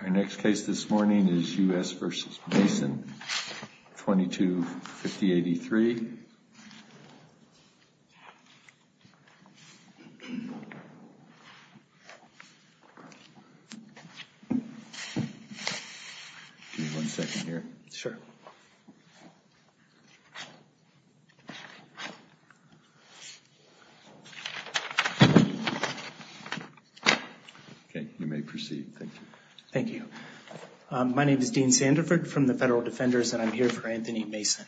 Our next case this morning is U.S. v. Mason, 2250-83. Give me one second here. Sure. Okay, you may proceed. Thank you. Thank you. My name is Dean Sandiford from the Federal Defenders, and I'm here for Anthony Mason.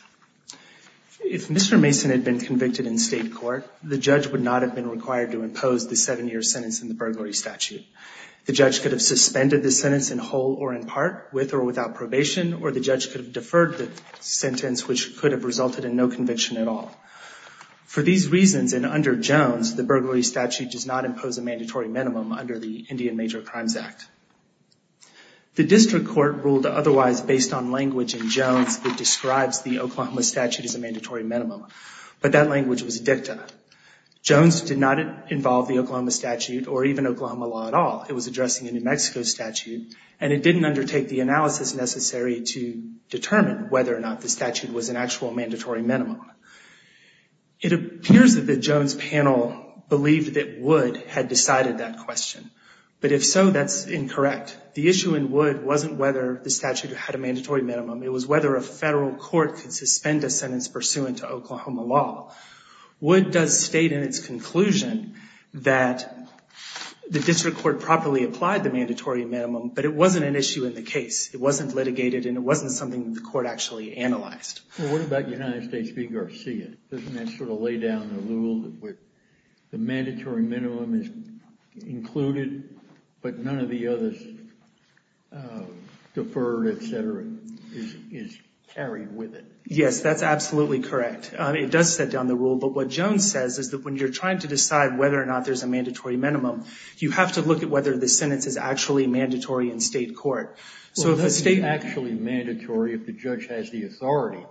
If Mr. Mason had been convicted in state court, the judge would not have been required to impose the seven-year sentence in the burglary statute. The judge could have suspended the sentence in whole or in part, with or without probation, or the judge could have deferred the sentence, which could have resulted in no conviction at all. For these reasons, and under Jones, the burglary statute does not impose a mandatory minimum under the Indian Major Crimes Act. The district court ruled otherwise based on language in Jones that describes the Oklahoma statute as a mandatory minimum, but that language was dicta. Jones did not involve the Oklahoma statute or even Oklahoma law at all. It was addressing a New Mexico statute, and it didn't undertake the analysis necessary to determine whether or not the statute was an actual mandatory minimum. It appears that the Jones panel believed that Wood had decided that question, but if so, that's incorrect. The issue in Wood wasn't whether the statute had a mandatory minimum. It was whether a federal court could suspend a sentence pursuant to Oklahoma law. Wood does state in its conclusion that the district court properly applied the mandatory minimum, but it wasn't an issue in the case. It wasn't litigated, and it wasn't something the court actually analyzed. Well, what about United States v. Garcia? Doesn't that sort of lay down the rule that the mandatory minimum is included, but none of the others, deferred, et cetera, is carried with it? Yes, that's absolutely correct. It does set down the rule, but what Jones says is that when you're trying to decide whether or not there's a mandatory minimum, you have to look at whether the sentence is actually mandatory in state court. Well, that's actually mandatory if the judge has the authority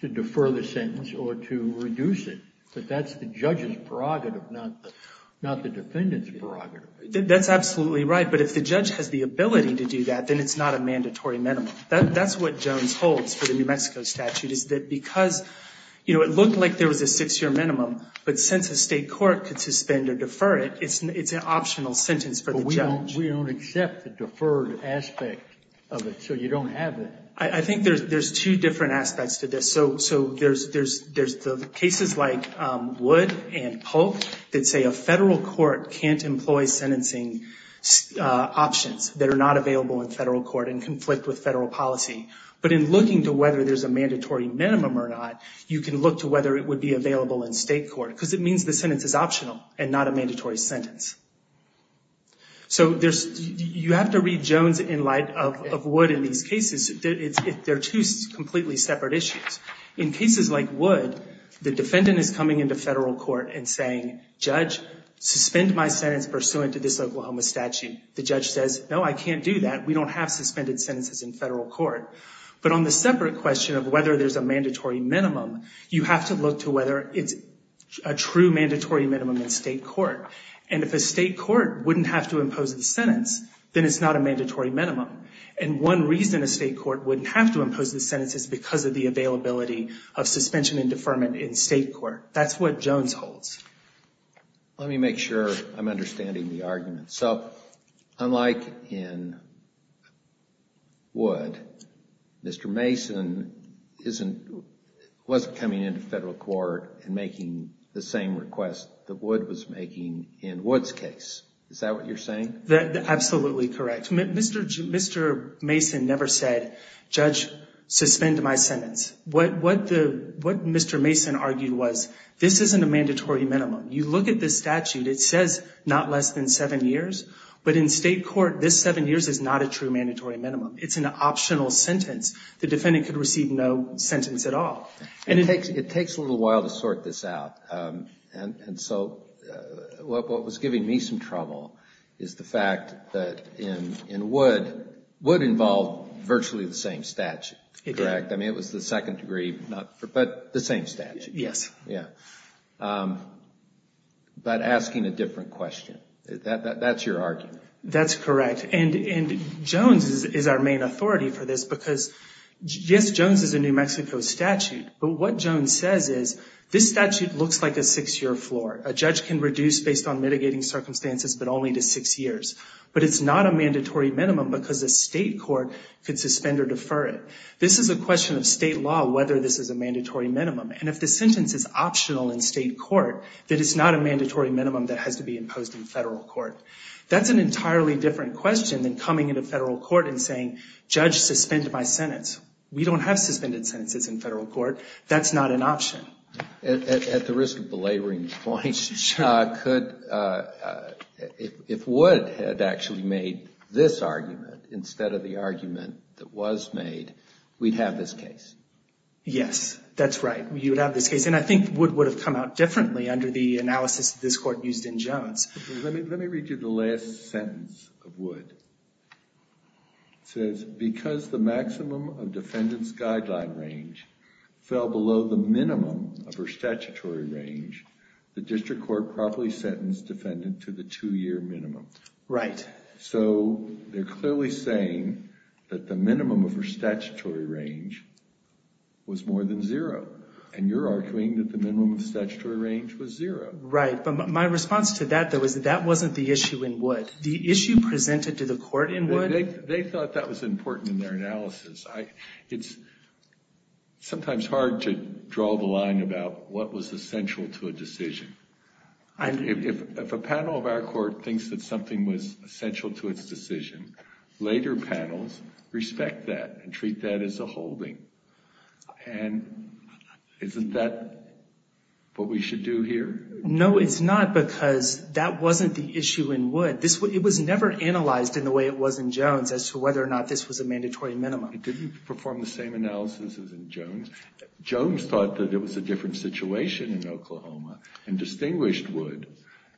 to defer the sentence or to reduce it, but that's the judge's prerogative, not the defendant's prerogative. That's absolutely right, but if the judge has the ability to do that, then it's not a mandatory minimum. That's what Jones holds for the New Mexico statute is that because it looked like there was a six-year minimum, but since a state court could suspend or defer it, it's an optional sentence for the judge. But we don't accept the deferred aspect of it, so you don't have it. I think there's two different aspects to this. There's the cases like Wood and Polk that say a federal court can't employ sentencing options that are not available in federal court and conflict with federal policy. But in looking to whether there's a mandatory minimum or not, you can look to whether it would be available in state court because it means the sentence is optional and not a mandatory sentence. You have to read Jones in light of Wood in these cases. They're two completely separate issues. In cases like Wood, the defendant is coming into federal court and saying, Judge, suspend my sentence pursuant to this Oklahoma statute. The judge says, No, I can't do that. We don't have suspended sentences in federal court. But on the separate question of whether there's a mandatory minimum, you have to look to whether it's a true mandatory minimum in state court. And if a state court wouldn't have to impose the sentence, then it's not a mandatory minimum. And one reason a state court wouldn't have to impose the sentence is because of the availability of suspension and deferment in state court. That's what Jones holds. Let me make sure I'm understanding the argument. So, unlike in Wood, Mr. Mason wasn't coming into federal court and making the same request that Wood was making in Wood's case. Is that what you're saying? Absolutely correct. Mr. Mason never said, Judge, suspend my sentence. What Mr. Mason argued was, this isn't a mandatory minimum. You look at this statute, it says not less than seven years. But in state court, this seven years is not a true mandatory minimum. It's an optional sentence. The defendant could receive no sentence at all. It takes a little while to sort this out. And so, what was giving me some trouble is the fact that in Wood, Wood involved virtually the same statute. It did. I mean, it was the second degree, but the same statute. Yes. Yes. Yeah. But asking a different question. That's your argument. That's correct. And Jones is our main authority for this because, yes, Jones is a New Mexico statute. But what Jones says is, this statute looks like a six-year floor. A judge can reduce based on mitigating circumstances, but only to six years. But it's not a mandatory minimum because a state court could suspend or defer it. This is a question of state law, whether this is a mandatory minimum. And if the sentence is optional in state court, then it's not a mandatory minimum that has to be imposed in federal court. That's an entirely different question than coming into federal court and saying, judge, suspend my sentence. We don't have suspended sentences in federal court. That's not an option. At the risk of belaboring points, if Wood had actually made this argument instead of the argument that was made, we'd have this case. Yes. That's right. We would have this case. And I think Wood would have come out differently under the analysis that this court used in Jones. Let me read you the last sentence of Wood. It says, because the maximum of defendant's guideline range fell below the minimum of her statutory range, the district court properly sentenced defendant to the two-year minimum. Right. So they're clearly saying that the minimum of her statutory range was more than zero. And you're arguing that the minimum of statutory range was zero. Right. But my response to that, though, is that that wasn't the issue in Wood. The issue presented to the court in Wood. They thought that was important in their analysis. It's sometimes hard to draw the line about what was essential to a decision. If a panel of our court thinks that something was essential to its decision, later panels respect that and treat that as a holding. And isn't that what we should do here? No, it's not, because that wasn't the issue in Wood. It was never analyzed in the way it was in Jones as to whether or not this was a mandatory minimum. It didn't perform the same analysis as in Jones. Jones thought that it was a different situation in Oklahoma and distinguished Wood.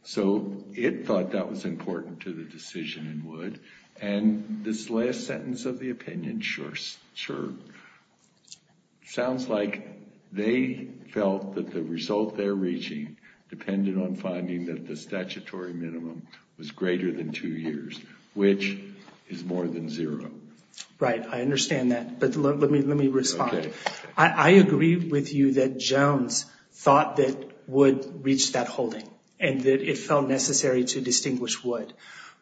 So it thought that was important to the decision in Wood. And this last sentence of the opinion, sure, sure, sounds like they felt that the result they're reaching depended on finding that the statutory minimum was greater than two years, which is more than zero. Right. I understand that. But let me respond. I agree with you that Jones thought that Wood reached that holding and that it felt necessary to distinguish Wood.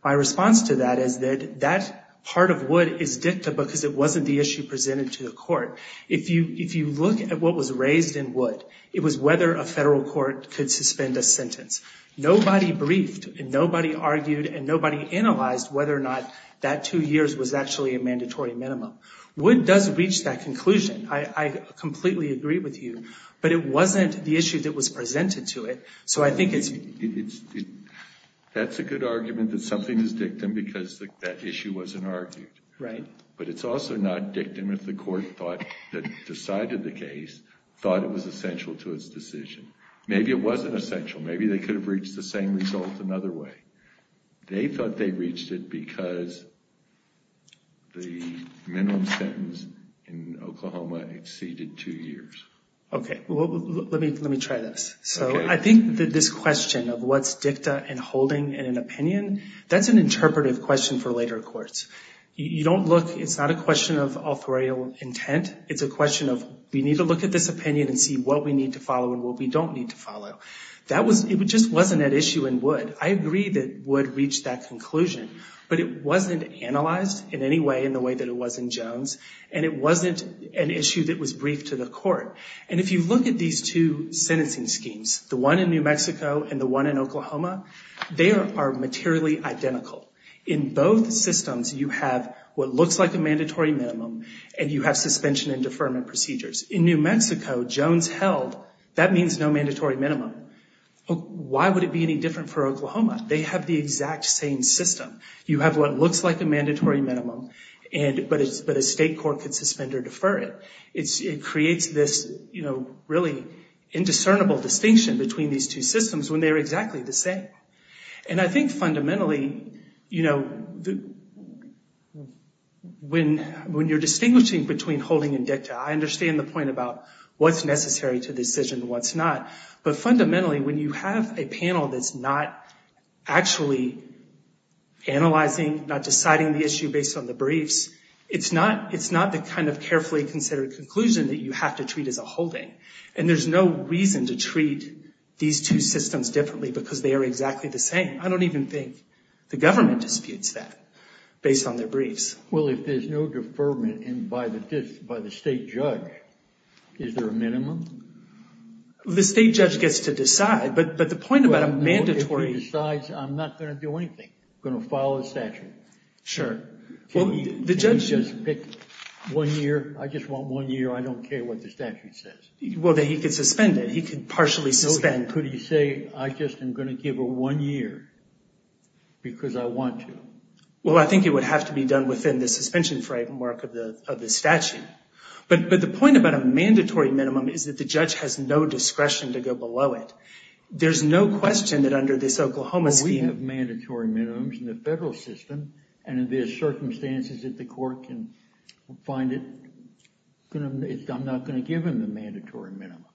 My response to that is that that part of Wood is dicta because it wasn't the issue presented to the court. If you look at what was raised in Wood, it was whether a federal court could suspend a sentence. Nobody briefed and nobody argued and nobody analyzed whether or not that two years was actually a mandatory minimum. Wood does reach that conclusion. I completely agree with you. But it wasn't the issue that was presented to it. So I think it's... That's a good argument that something is dictum because that issue wasn't argued. Right. But it's also not dictum if the court thought, that decided the case, thought it was essential to its decision. Maybe it wasn't essential. Maybe they could have reached the same result another way. They thought they reached it because the minimum sentence in Oklahoma exceeded two years. Okay. Well, let me try this. Okay. So I think that this question of what's dicta and holding and an opinion, that's an interpretive question for later courts. You don't look... It's not a question of authorial intent. It's a question of we need to look at this opinion and see what we need to follow and what we don't need to follow. That was... It just wasn't at issue in Wood. I agree that Wood reached that conclusion. But it wasn't analyzed in any way in the way that it was in Jones. And it wasn't an issue that was briefed to the court. And if you look at these two sentencing schemes, the one in New Mexico and the one in Oklahoma, they are materially identical. In both systems, you have what looks like a mandatory minimum and you have suspension and deferment procedures. In New Mexico, Jones held. That means no mandatory minimum. Why would it be any different for Oklahoma? They have the exact same system. You have what looks like a mandatory minimum, but a state court could suspend or defer it. It creates this, you know, really indiscernible distinction between these two systems when they're exactly the same. And I think fundamentally, you know, when you're distinguishing between holding and dicta, I understand the point about what's necessary to the decision and what's not. But fundamentally, when you have a panel that's not actually analyzing, not deciding the issue based on the briefs, it's not the kind of carefully considered conclusion that you have to treat as a holding. And there's no reason to treat these two systems differently because they are exactly the same. I don't even think the government disputes that based on their briefs. Well, if there's no deferment and by the state judge, is there a minimum? The state judge gets to decide, but the point about a mandatory... If he decides, I'm not going to do anything. I'm going to follow the statute. Sure. Can he just pick one year? I just want one year. I don't care what the statute says. Well, then he could suspend it. He could partially suspend. Could he say, I just am going to give her one year because I want to? Well, I think it would have to be done within the suspension framework of the statute. But the point about a mandatory minimum is that the judge has no discretion to go below it. There's no question that under this Oklahoma scheme... Well, we have mandatory minimums in the federal system, and if there's circumstances that the court can find it, I'm not going to give him the mandatory minimum.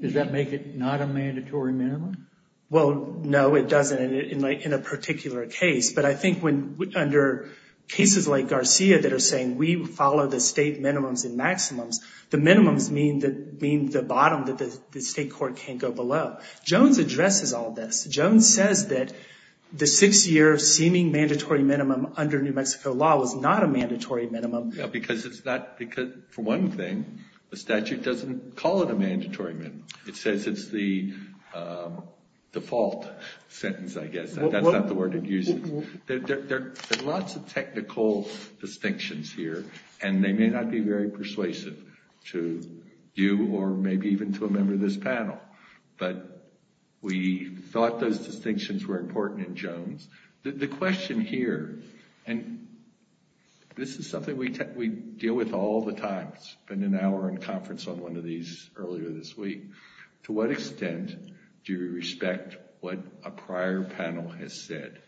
Does that make it not a mandatory minimum? Well, no, it doesn't in a particular case. But I think under cases like Garcia that are saying we follow the state minimums and maximums, the minimums mean the bottom, that the state court can't go below. Jones addresses all this. Jones says that the six-year seeming mandatory minimum under New Mexico law was not a mandatory minimum. Because for one thing, the statute doesn't call it a mandatory minimum. It says it's the default sentence, I guess. That's not the word it uses. There are lots of technical distinctions here, and they may not be very persuasive to you or maybe even to a member of this panel. But we thought those distinctions were important in Jones. The question here, and this is something we deal with all the time. It's been an hour in conference on one of these earlier this week. To what extent do we respect what a prior panel has said?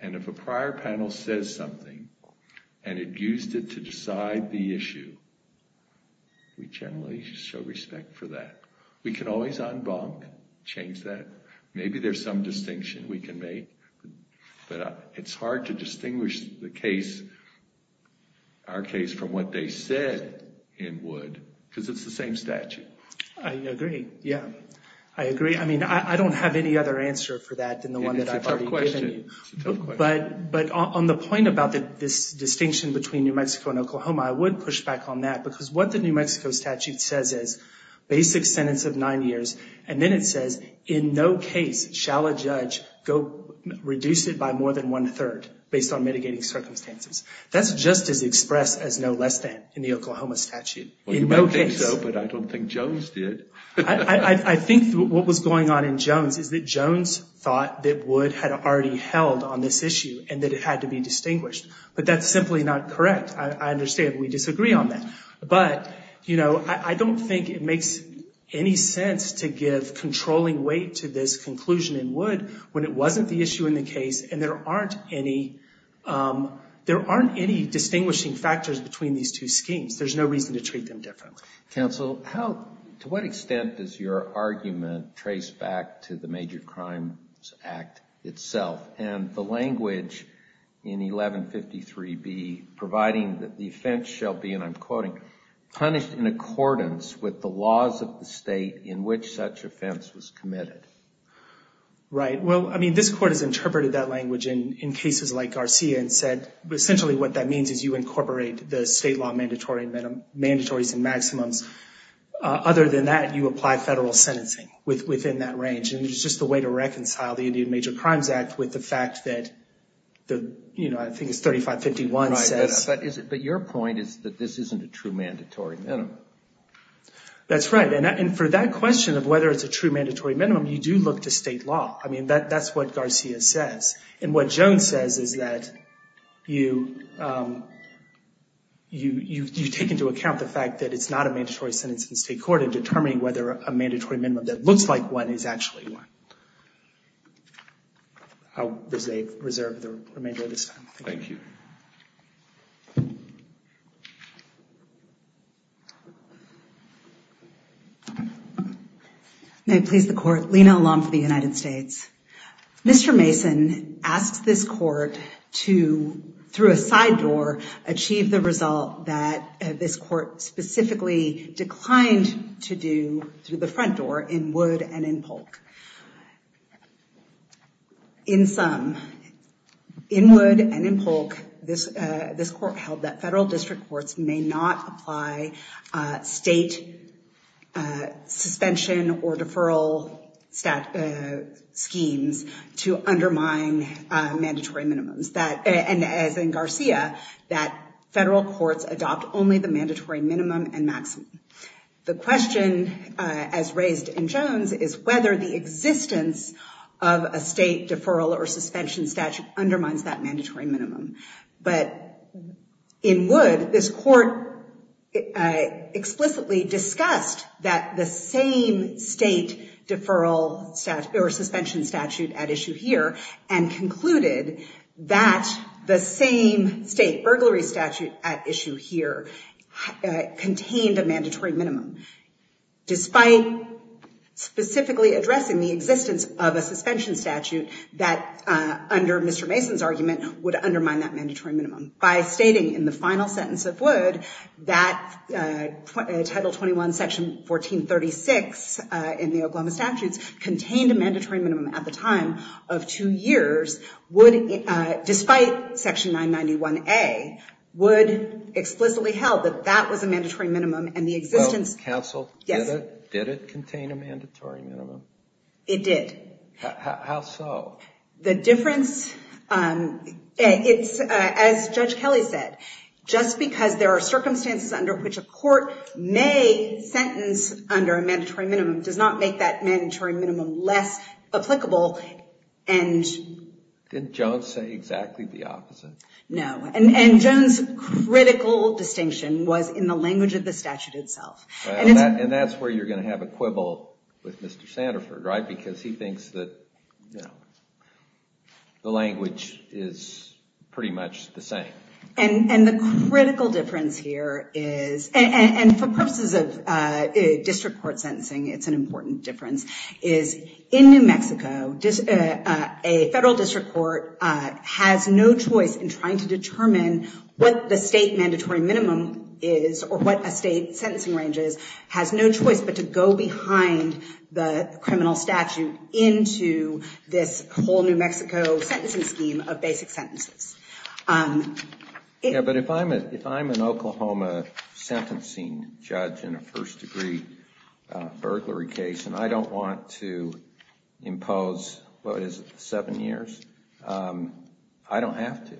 And if a prior panel says something and it used it to decide the issue, we generally show respect for that. We can always unbonk, change that. Maybe there's some distinction we can make, but it's hard to distinguish the case, our case, from what they said in Wood because it's the same statute. I agree, yeah. I agree. I mean, I don't have any other answer for that than the one that I've already given you. It's a tough question. But on the point about this distinction between New Mexico and Oklahoma, I would push back on that because what the New Mexico statute says is, basic sentence of nine years, and then it says, in no case shall a judge reduce it by more than one-third based on mitigating circumstances. That's just as expressed as no less than in the Oklahoma statute. Well, you might think so, but I don't think Jones did. I think what was going on in Jones is that Jones thought that Wood had already held on this issue and that it had to be distinguished. But that's simply not correct. I understand. We disagree on that. But, you know, I don't think it makes any sense to give controlling weight to this conclusion in Wood when it wasn't the issue in the case and there aren't any distinguishing factors between these two schemes. There's no reason to treat them differently. Counsel, to what extent does your argument trace back to the Major Crimes Act itself? And the language in 1153B, providing that the offense shall be, and I'm quoting, punished in accordance with the laws of the state in which such offense was committed. Right. Well, I mean, this Court has interpreted that language in cases like Garcia and said, essentially what that means is you incorporate the state law mandatories and maximums. Other than that, you apply federal sentencing within that range. And it's just a way to reconcile the Indian Major Crimes Act with the fact that the, you know, I think it's 3551 says. But your point is that this isn't a true mandatory minimum. That's right. And for that question of whether it's a true mandatory minimum, you do look to state law. I mean, that's what Garcia says. And what Jones says is that you take into account the fact that it's not a mandatory sentence in state court in determining whether a mandatory minimum that looks like one is actually one. I'll reserve the remainder of this time. Thank you. May it please the Court. Lena Alum for the United States. Mr. Mason asked this court to, through a side door, achieve the result that this court specifically declined to do through the front door in Wood and in Polk. In sum, in Wood and in Polk, this court held that federal district courts may not apply state suspension or deferral schemes to undermine mandatory minimums. And as in Garcia, that federal courts adopt only the mandatory minimum and maximum. The question, as raised in Jones, is whether the existence of a state deferral or suspension statute undermines that mandatory minimum. But in Wood, this court explicitly discussed that the same state deferral or suspension statute at issue here and concluded that the same state burglary statute at issue here contained a mandatory minimum, despite specifically addressing the existence of a suspension statute that, under Mr. Mason's argument, would undermine that mandatory minimum. By stating in the final sentence of Wood that Title 21, Section 1436 in the Oklahoma statutes contained a mandatory minimum at the time of two years, despite Section 991A, Wood explicitly held that that was a mandatory minimum and the existence... Counsel, did it contain a mandatory minimum? It did. How so? The difference, it's as Judge Kelly said, just because there are circumstances under which a court may sentence under a mandatory minimum does not make that mandatory minimum less applicable and... Didn't Jones say exactly the opposite? No. And Jones' critical distinction was in the language of the statute itself. And that's where you're going to have a quibble with Mr. Sandiford, right? Because he thinks that the language is pretty much the same. And the critical difference here is... And for purposes of district court sentencing, it's an important difference, is in New Mexico, a federal district court has no choice in trying to determine what the state mandatory minimum is or what a state sentencing range is, has no choice but to go behind the criminal statute into this whole New Mexico sentencing scheme of basic sentences. Yeah, but if I'm an Oklahoma sentencing judge in a first-degree burglary case and I don't want to impose, what is it, seven years? I don't have to.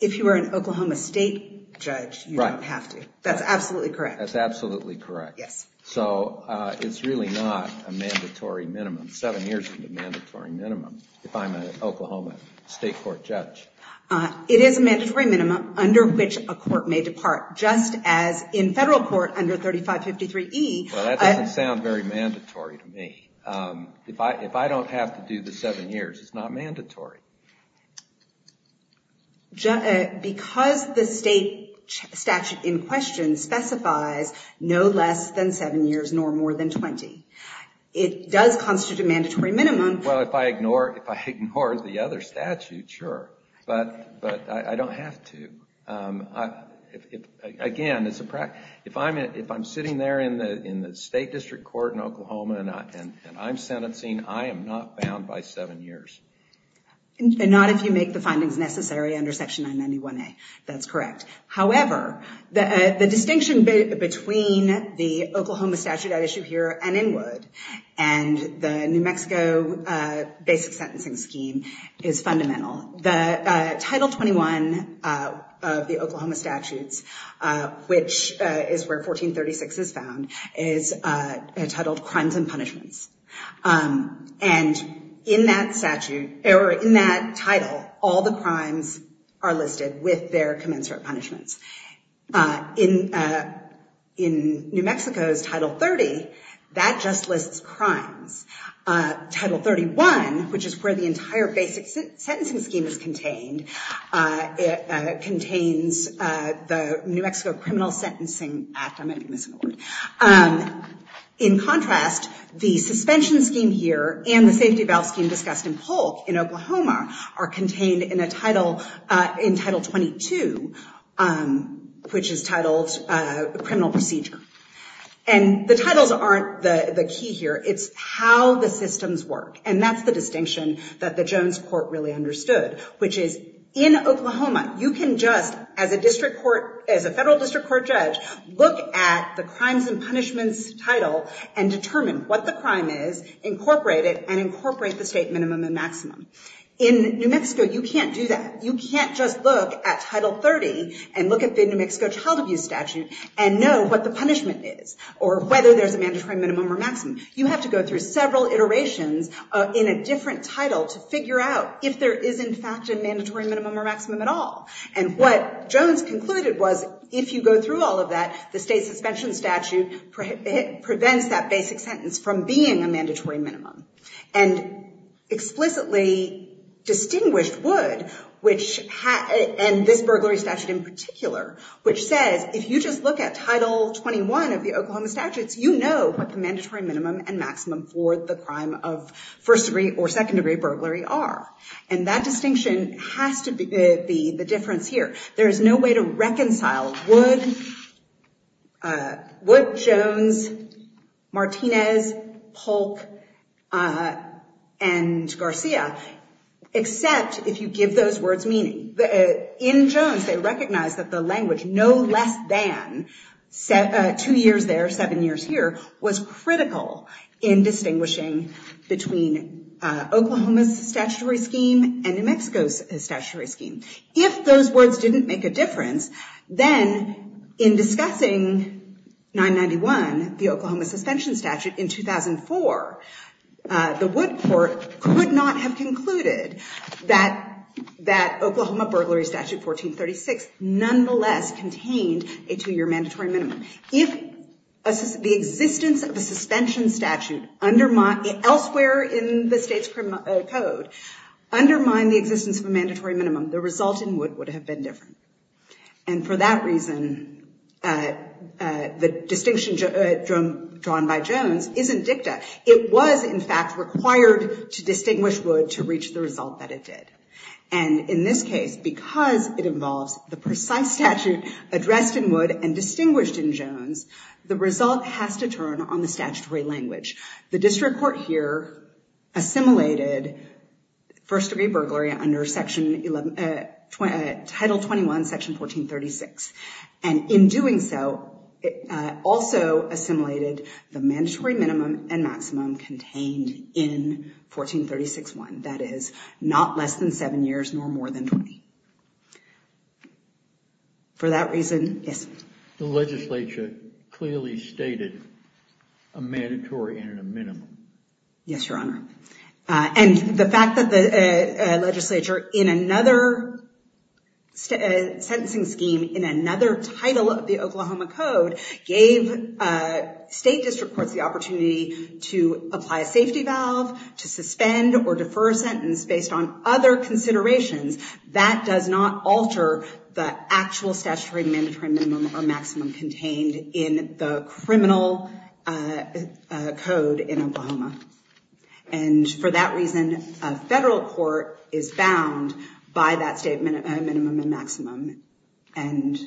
If you were an Oklahoma state judge, you don't have to. That's absolutely correct. That's absolutely correct. Yes. So it's really not a mandatory minimum. Seven years isn't a mandatory minimum if I'm an Oklahoma state court judge. It is a mandatory minimum under which a court may depart, just as in federal court under 3553E... Well, that doesn't sound very mandatory to me. If I don't have to do the seven years, it's not mandatory. Because the state statute in question specifies no less than seven years nor more than 20, it does constitute a mandatory minimum. Well, if I ignore the other statute, sure, but I don't have to. Again, if I'm sitting there in the state district court in Oklahoma and I'm sentencing, I am not bound by seven years. Not if you make the findings necessary under Section 991A. That's correct. However, the distinction between the Oklahoma statute at issue here and in Wood and the New Mexico basic sentencing scheme is fundamental. Title 21 of the Oklahoma statutes, which is where 1436 is found, is titled Crimes and Punishments. And in that statute, or in that title, all the crimes are listed with their commensurate punishments. In New Mexico's Title 30, that just lists crimes. Title 31, which is where the entire basic sentencing scheme is contained, contains the New Mexico Criminal Sentencing Act. In contrast, the suspension scheme here and the safety valve scheme discussed in Polk in Oklahoma are contained in Title 22, which is titled Criminal Procedure. And the titles aren't the key here. It's how the systems work. And that's the distinction that the Jones court really understood, which is in Oklahoma, you can just, as a federal district court judge, look at the Crimes and Punishments title and determine what the crime is, incorporate it, and incorporate the state minimum and maximum. In New Mexico, you can't do that. You can't just look at Title 30 and look at the New Mexico child abuse statute and know what the punishment is, or whether there's a mandatory minimum or maximum. You have to go through several iterations in a different title to figure out if there is, in fact, a mandatory minimum or maximum at all. And what Jones concluded was if you go through all of that, the state suspension statute prevents that basic sentence from being a mandatory minimum. And explicitly distinguished would, and this burglary statute in particular, which says if you just look at Title 21 of the Oklahoma statutes, you know what the mandatory minimum and maximum for the crime of first degree or second degree burglary are. And that distinction has to be the difference here. There is no way to reconcile Wood, Jones, Martinez, Polk, and Garcia, except if you give those words meaning. In Jones, they recognize that the language, no less than two years there, seven years here, was critical in distinguishing between Oklahoma's statutory scheme and New Mexico's statutory scheme. If those words didn't make a difference, then in discussing 991, the Oklahoma suspension statute in 2004, the Wood court could not have concluded that Oklahoma burglary statute 1436 nonetheless contained a two-year mandatory minimum. If the existence of a suspension statute elsewhere in the state's code undermined the existence of a mandatory minimum, the result in Wood would have been different. And for that reason, the distinction drawn by Jones isn't dicta. It was, in fact, required to distinguish Wood to reach the result that it did. And in this case, because it involves the precise statute addressed in Wood and distinguished in Jones, the result has to turn on the statutory language. The district court here assimilated first-degree burglary under Title 21, Section 1436. And in doing so, it also assimilated the mandatory minimum and maximum contained in 1436.1. That is, not less than seven years, nor more than 20. For that reason, yes? The legislature clearly stated a mandatory and a minimum. Yes, Your Honor. And the fact that the legislature, in another sentencing scheme, in another title of the Oklahoma Code, gave state district courts the opportunity to apply a safety valve, to suspend or defer a sentence based on other considerations, that does not alter the actual statutory mandatory minimum or maximum contained in the criminal code in Oklahoma. And for that reason, a federal court is bound by that statement, a minimum and maximum. And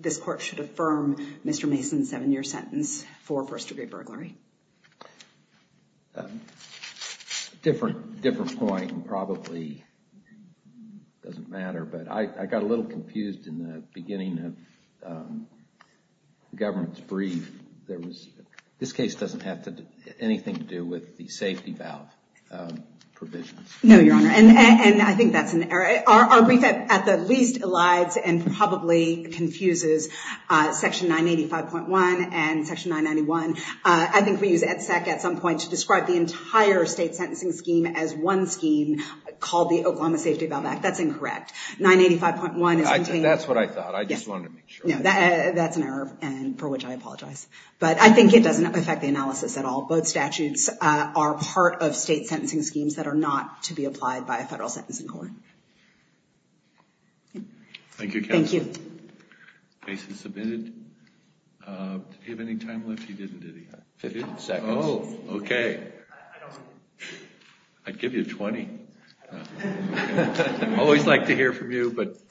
this court should affirm Mr. Mason's seven-year sentence for first-degree burglary. Different point, and probably doesn't matter, but I got a little confused in the beginning of the government's brief. This case doesn't have anything to do with the safety valve provision. No, Your Honor, and I think that's an error. Our brief at the least elides and probably confuses Section 985.1 and Section 991. I think we use EDSEC at some point to describe the entire state sentencing scheme as one scheme called the Oklahoma Safety Valve Act. That's incorrect. 985.1 is contained. That's what I thought. I just wanted to make sure. That's an error for which I apologize. But I think it doesn't affect the analysis at all. Both statutes are part of state sentencing schemes that are not to be applied by a federal sentencing court. Thank you, counsel. Thank you. Case is submitted. Did he have any time left? He didn't, did he? Fifteen seconds. Oh, okay. I'd give you 20. Always like to hear from you, but fine.